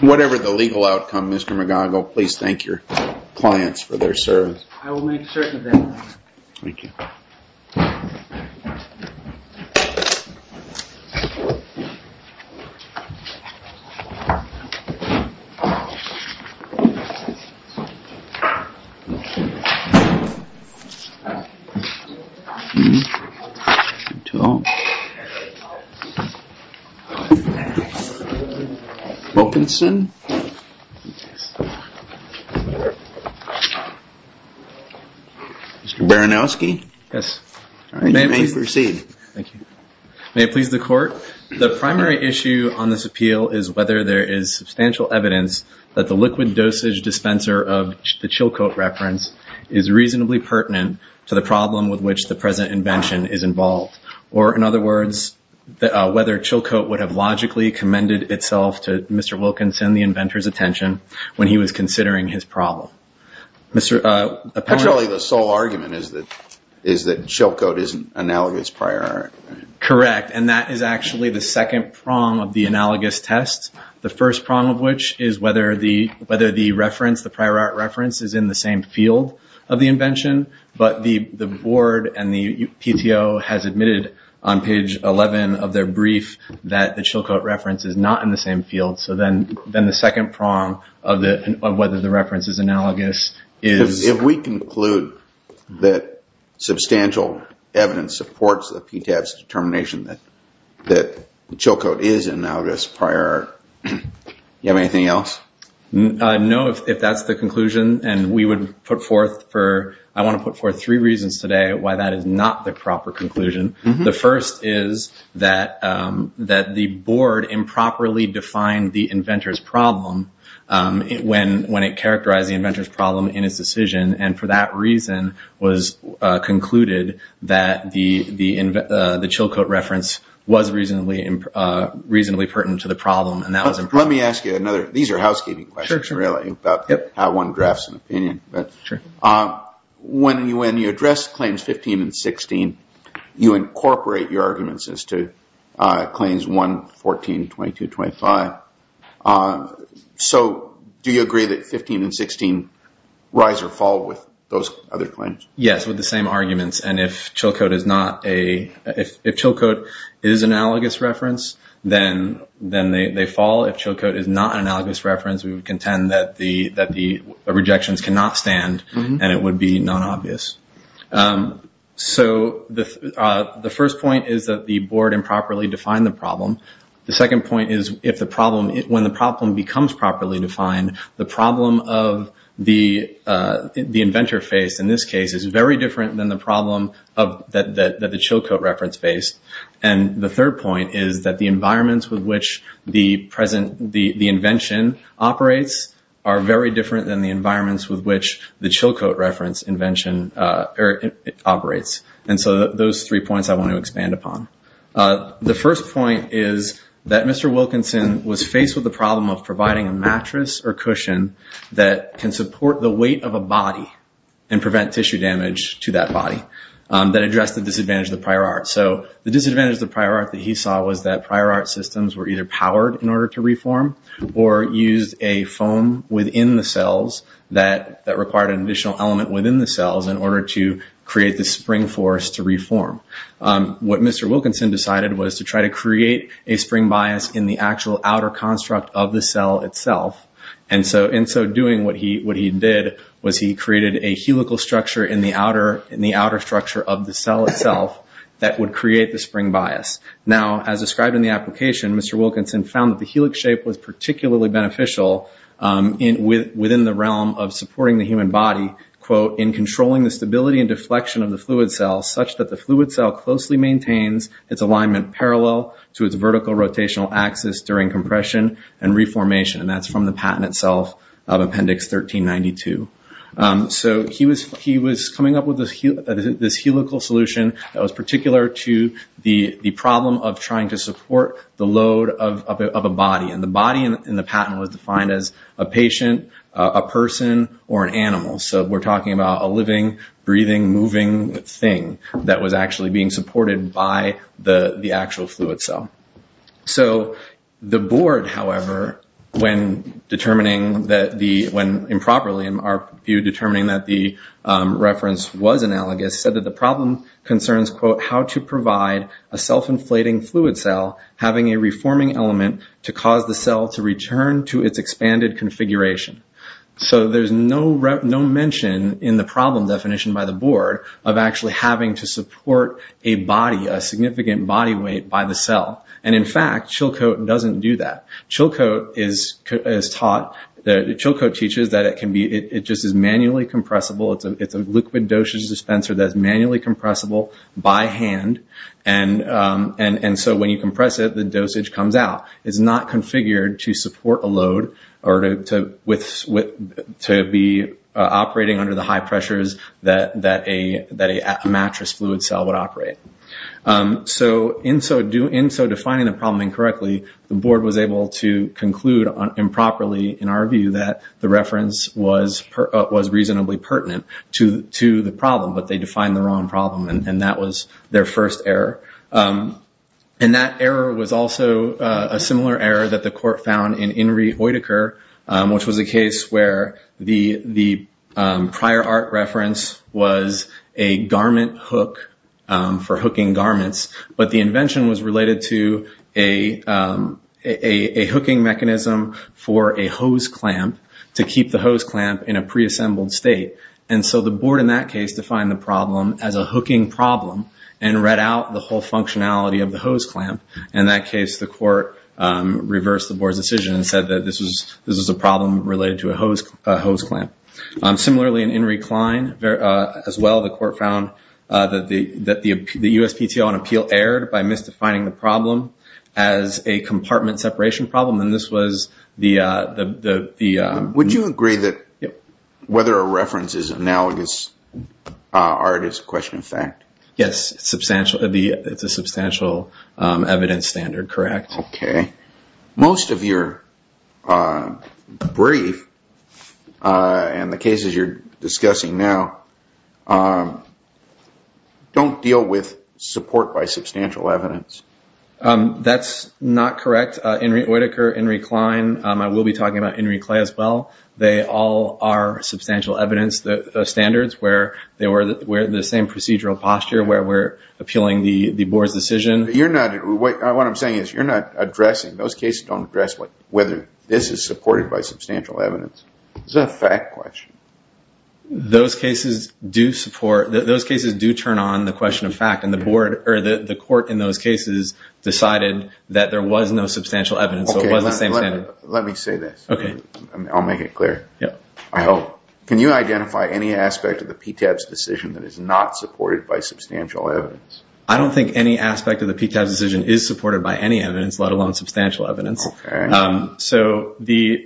Whatever the legal outcome, Mr. McGonagall, please thank your clients for their service. I will make certain of that. Thank you. Mr. Baranowski, you may proceed. May it please the court, the primary issue on this appeal is whether there is substantial evidence that the liquid dosage dispenser of the Chilcot reference is reasonably pertinent to the problem with which the present invention is involved. Or, in other words, whether Chilcot would have logically commended itself to Mr. Wilkinson, the inventor's attention, when he was considering his problem. Actually, the sole argument is that Chilcot isn't analogous prior art. Correct. And that is actually the second prong of the analogous test, the first prong of which is whether the reference, the prior art reference, is in the same field of the invention. But the board and the PTO has admitted on page 11 of their brief that the Chilcot reference is not in the same field. So then the second prong of whether the reference is analogous is... If we conclude that substantial evidence supports the PTAB's determination that Chilcot is analogous prior art, do you have anything else? No, if that's the conclusion. And I want to put forth three reasons today why that is not the proper conclusion. The first is that the board improperly defined the inventor's problem when it characterized the inventor's problem in its decision. And for that reason was concluded that the Chilcot reference was reasonably pertinent to the problem. Let me ask you another. These are housekeeping questions, really, about how one drafts an opinion. When you address claims 15 and 16, you incorporate your arguments as to claims 1, 14, 22, 25. So do you agree that 15 and 16 rise or fall with those other claims? Yes, with the same arguments. And if Chilcot is an analogous reference, then they fall. If Chilcot is not an analogous reference, we would contend that the rejections cannot stand and it would be non-obvious. So the first point is that the board improperly defined the problem. The second point is when the problem becomes properly defined, the problem of the inventor face, in this case, is very different than the problem that the Chilcot reference faced. And the third point is that the environments with which the invention operates are very different than the environments with which the Chilcot reference invention operates. And so those three points I want to expand upon. The first point is that Mr. Wilkinson was faced with the problem of providing a mattress or cushion that can support the weight of a body and prevent tissue damage to that body that addressed the disadvantage of the prior art. So the disadvantage of the prior art that he saw was that prior art systems were either powered in order to reform or used a foam within the cells that required an additional element within the cells in order to create the spring force to reform. What Mr. Wilkinson decided was to try to create a spring bias in the actual outer construct of the cell itself. And so in so doing what he did was he created a helical structure in the outer structure of the cell itself that would create the spring bias. Now, as described in the application, Mr. Wilkinson found that the helix shape was particularly beneficial within the realm of supporting the human body, quote, in controlling the stability and deflection of the fluid cell, such that the fluid cell closely maintains its alignment parallel to its vertical rotational axis during compression and reformation. And that's from the patent itself of Appendix 1392. So he was coming up with this helical solution that was particular to the problem of trying to support the load of a body. And the body in the patent was defined as a patient, a person, or an animal. So we're talking about a living, breathing, moving thing that was actually being supported by the actual fluid cell. So the board, however, when improperly, in our view, determining that the reference was analogous, said that the problem concerns, quote, how to provide a self-inflating fluid cell having a reforming element to cause the cell to return to its expanded configuration. So there's no mention in the problem definition by the board of actually having to support a body, a significant body weight by the cell. And in fact, Chilcote doesn't do that. Chilcote teaches that it just is manually compressible. It's a liquid dosage dispenser that's manually compressible by hand. And so when you compress it, the dosage comes out. It's not configured to support a load or to be operating under the high pressures that a mattress fluid cell would operate. So in so defining the problem incorrectly, the board was able to conclude improperly, in our view, that the reference was reasonably pertinent to the problem, but they defined the wrong problem. And that was their first error. And that error was also a similar error that the court found in Inri Hoytaker, which was a case where the prior art reference was a garment hook for hooking garments. But the invention was related to a hooking mechanism for a hose clamp to keep the hose clamp in a preassembled state. And so the board, in that case, defined the problem as a hooking problem and read out the whole functionality of the hose clamp. In that case, the court reversed the board's decision and said that this was a problem related to a hose clamp. Similarly, in Inri Klein, as well, the court found that the USPTO on appeal erred by misdefining the problem as a compartment separation problem. Would you agree that whether a reference is analogous is a question of fact? Yes, it's a substantial evidence standard, correct. Okay. Most of your brief and the cases you're discussing now don't deal with support by substantial evidence. That's not correct. Inri Hoytaker, Inri Klein, I will be talking about Inri Klein, as well. They all are substantial evidence standards where we're in the same procedural posture where we're appealing the board's decision. What I'm saying is you're not addressing, those cases don't address whether this is supported by substantial evidence. It's a fact question. Those cases do support, those cases do turn on the question of fact. The court in those cases decided that there was no substantial evidence, so it was the same standard. Let me say this. Okay. I'll make it clear. I hope. Can you identify any aspect of the PTAB's decision that is not supported by substantial evidence? I don't think any aspect of the PTAB's decision is supported by any evidence, let alone substantial evidence. Okay.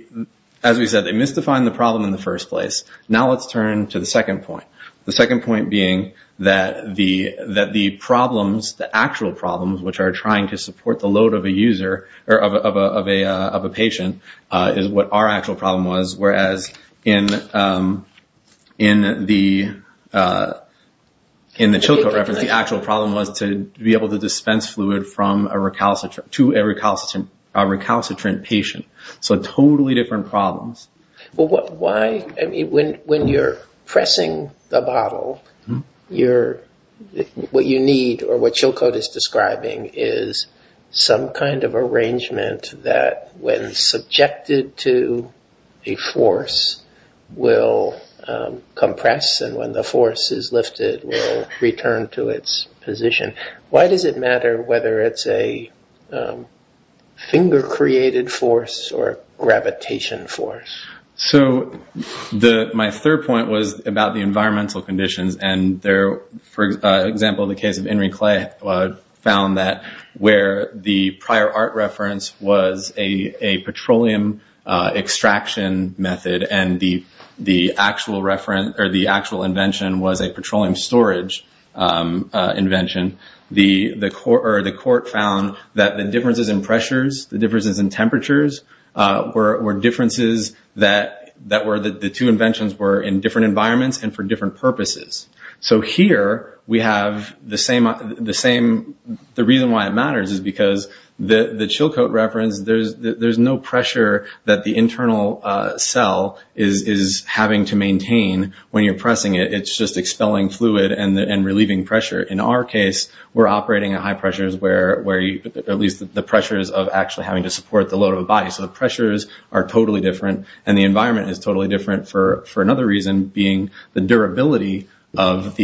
As we said, they misdefined the problem in the first place. Now, let's turn to the second point. The second point being that the actual problems, which are trying to support the load of a patient, is what our actual problem was, whereas in the Chilcot reference, the actual problem was to be able to dispense fluid to a recalcitrant patient. So totally different problems. When you're pressing the bottle, what you need or what Chilcot is describing is some kind of arrangement that, when subjected to a force, will compress, and when the force is lifted, will return to its position. Why does it matter whether it's a finger-created force or a gravitation force? So my third point was about the environmental conditions. For example, the case of Henry Clay found that where the prior art reference was a petroleum extraction method and the actual invention was a petroleum storage invention, the court found that the differences in pressures, the differences in temperatures, were differences that the two inventions were in different environments and for different purposes. So here, the reason why it matters is because the Chilcot reference, there's no pressure that the internal cell is having to maintain when you're pressing it. It's just expelling fluid and relieving pressure. In our case, we're operating at high pressures, at least the pressures of actually having to support the load of a body. So the pressures are totally different and the environment is totally different for another reason, being the durability of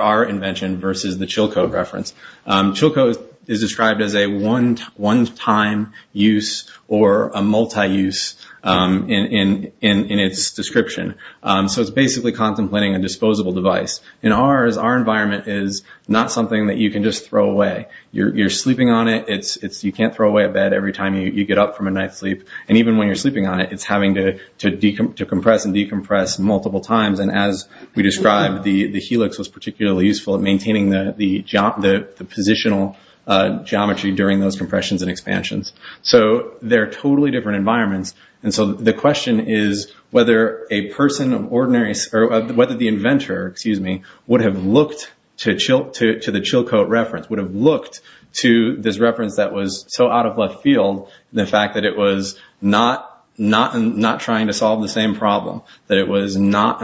our invention versus the Chilcot reference. Chilcot is described as a one-time use or a multi-use in its description. So it's basically contemplating a disposable device. In ours, our environment is not something that you can just throw away. You're sleeping on it. You can't throw away a bed every time you get up from a night's sleep. And even when you're sleeping on it, it's having to compress and decompress multiple times. And as we described, the helix was particularly useful in maintaining the positional geometry during those compressions and expansions. So they're totally different environments. And so the question is whether a person of ordinary, or whether the inventor, excuse me, would have looked to the Chilcot reference, would have looked to this reference that was so out of left field, the fact that it was not trying to solve the same problem, that it was not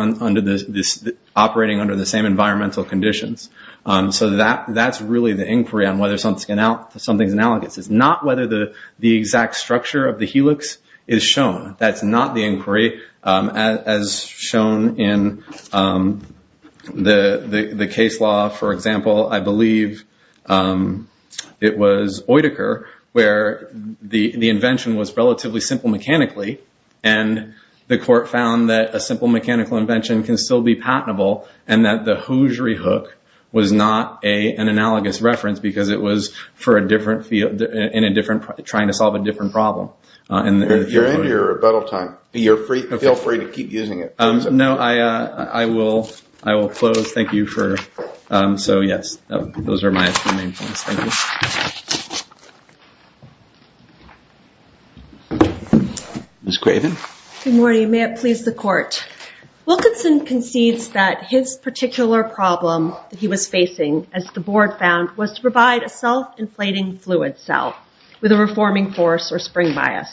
operating under the same environmental conditions. So that's really the inquiry on whether something's analogous. It's not whether the exact structure of the helix is shown. That's not the inquiry. As shown in the case law, for example, I believe it was Oedeker where the invention was relatively simple mechanically, and the court found that a simple mechanical invention can still be patentable, and that the hosiery hook was not an analogous reference because it was for a different field, trying to solve a different problem. If you're into your rebuttal time, feel free to keep using it. No, I will close. Thank you. So yes, those are my main points. Thank you. Ms. Craven? Good morning. May it please the court. Wilkinson concedes that his particular problem that he was facing, as the board found, was to provide a self-inflating fluid cell with a reforming force or spring bias.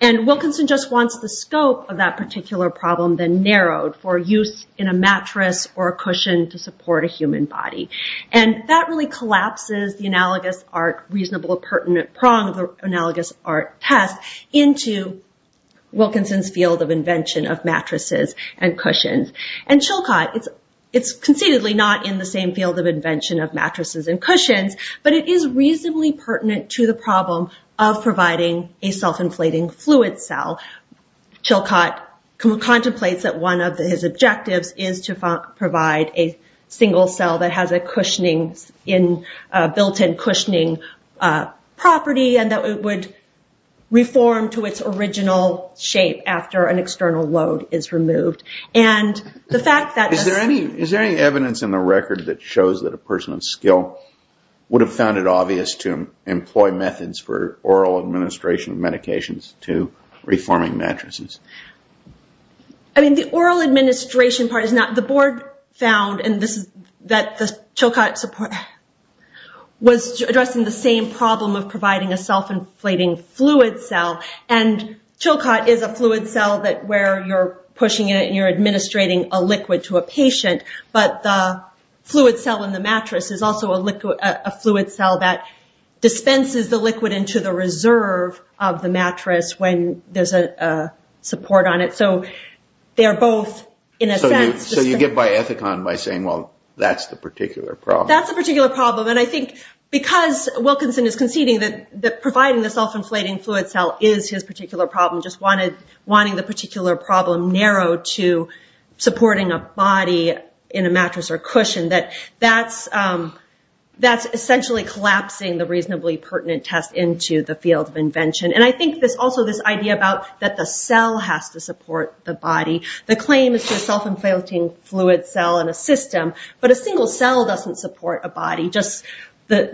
And Wilkinson just wants the scope of that particular problem then narrowed for use in a mattress or a cushion to support a human body. And that really collapses the analogous art reasonable pertinent prong of the analogous art test into Wilkinson's field of invention of mattresses and cushions. And Chilcott, it's conceitedly not in the same field of invention of mattresses and cushions, but it is reasonably pertinent to the problem of providing a self-inflating fluid cell. Chilcott contemplates that one of his objectives is to provide a single cell that has a built-in cushioning property and that it would reform to its original shape after an external load is removed. Is there any evidence in the record that shows that a person of skill would have found it obvious to employ methods for oral administration of medications to reforming mattresses? I mean, the oral administration part is not... The board found that Chilcott was addressing the same problem of providing a self-inflating fluid cell. And Chilcott is a fluid cell where you're pushing it and you're administrating a liquid to a patient, but the fluid cell in the mattress is also a fluid cell that dispenses the liquid into the reserve of the mattress when there's a support on it. So they're both, in a sense... So you get by Ethicon by saying, well, that's the particular problem. That's the particular problem. And I think because Wilkinson is conceding that providing the self-inflating fluid cell is his particular problem, just wanting the particular problem narrowed to supporting a body in a mattress or cushion, that that's essentially collapsing the reasonably pertinent test into the field of invention. And I think there's also this idea about that the cell has to support the body. The claim is to self-inflating fluid cell in a system, but a single cell doesn't support a body. Just like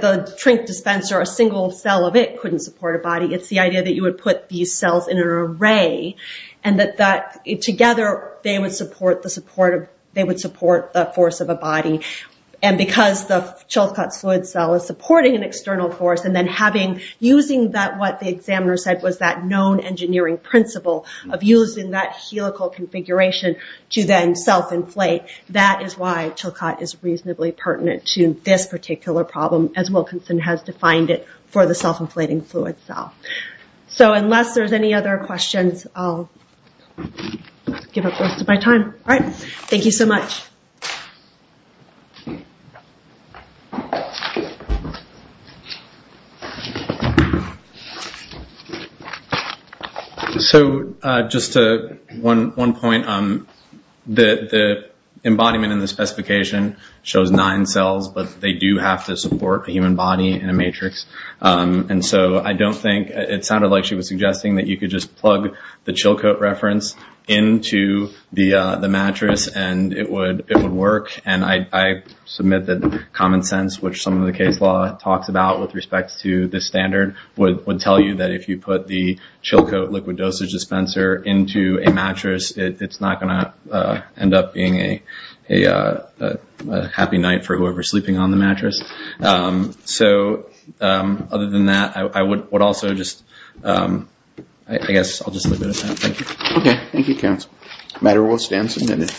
the drink dispenser, a single cell of it couldn't support a body. It's the idea that you would put these cells in an array, and that together they would support the force of a body. And because the Chilcott fluid cell is supporting an external force and then using what the examiner said was that known engineering principle of using that helical configuration to then self-inflate, that is why Chilcott is reasonably pertinent to this particular problem as Wilkinson has defined it for the self-inflating fluid cell. So unless there's any other questions, I'll give up most of my time. So just one point. The embodiment in the specification shows nine cells, but they do have to support a human body in a matrix. And so I don't think, it sounded like she was suggesting that you could just plug the Chilcott reference into the mattress and it would work. And I submit that common sense, which some of the case law talks about with respect to this standard, would tell you that if you put the Chilcott liquid dosage dispenser into a mattress, it's not going to end up being a happy night for whoever is sleeping on the mattress. So other than that, I would also just, I guess I'll just leave it at that. Thank you. Okay. Thank you, counsel. The matter will stand submitted.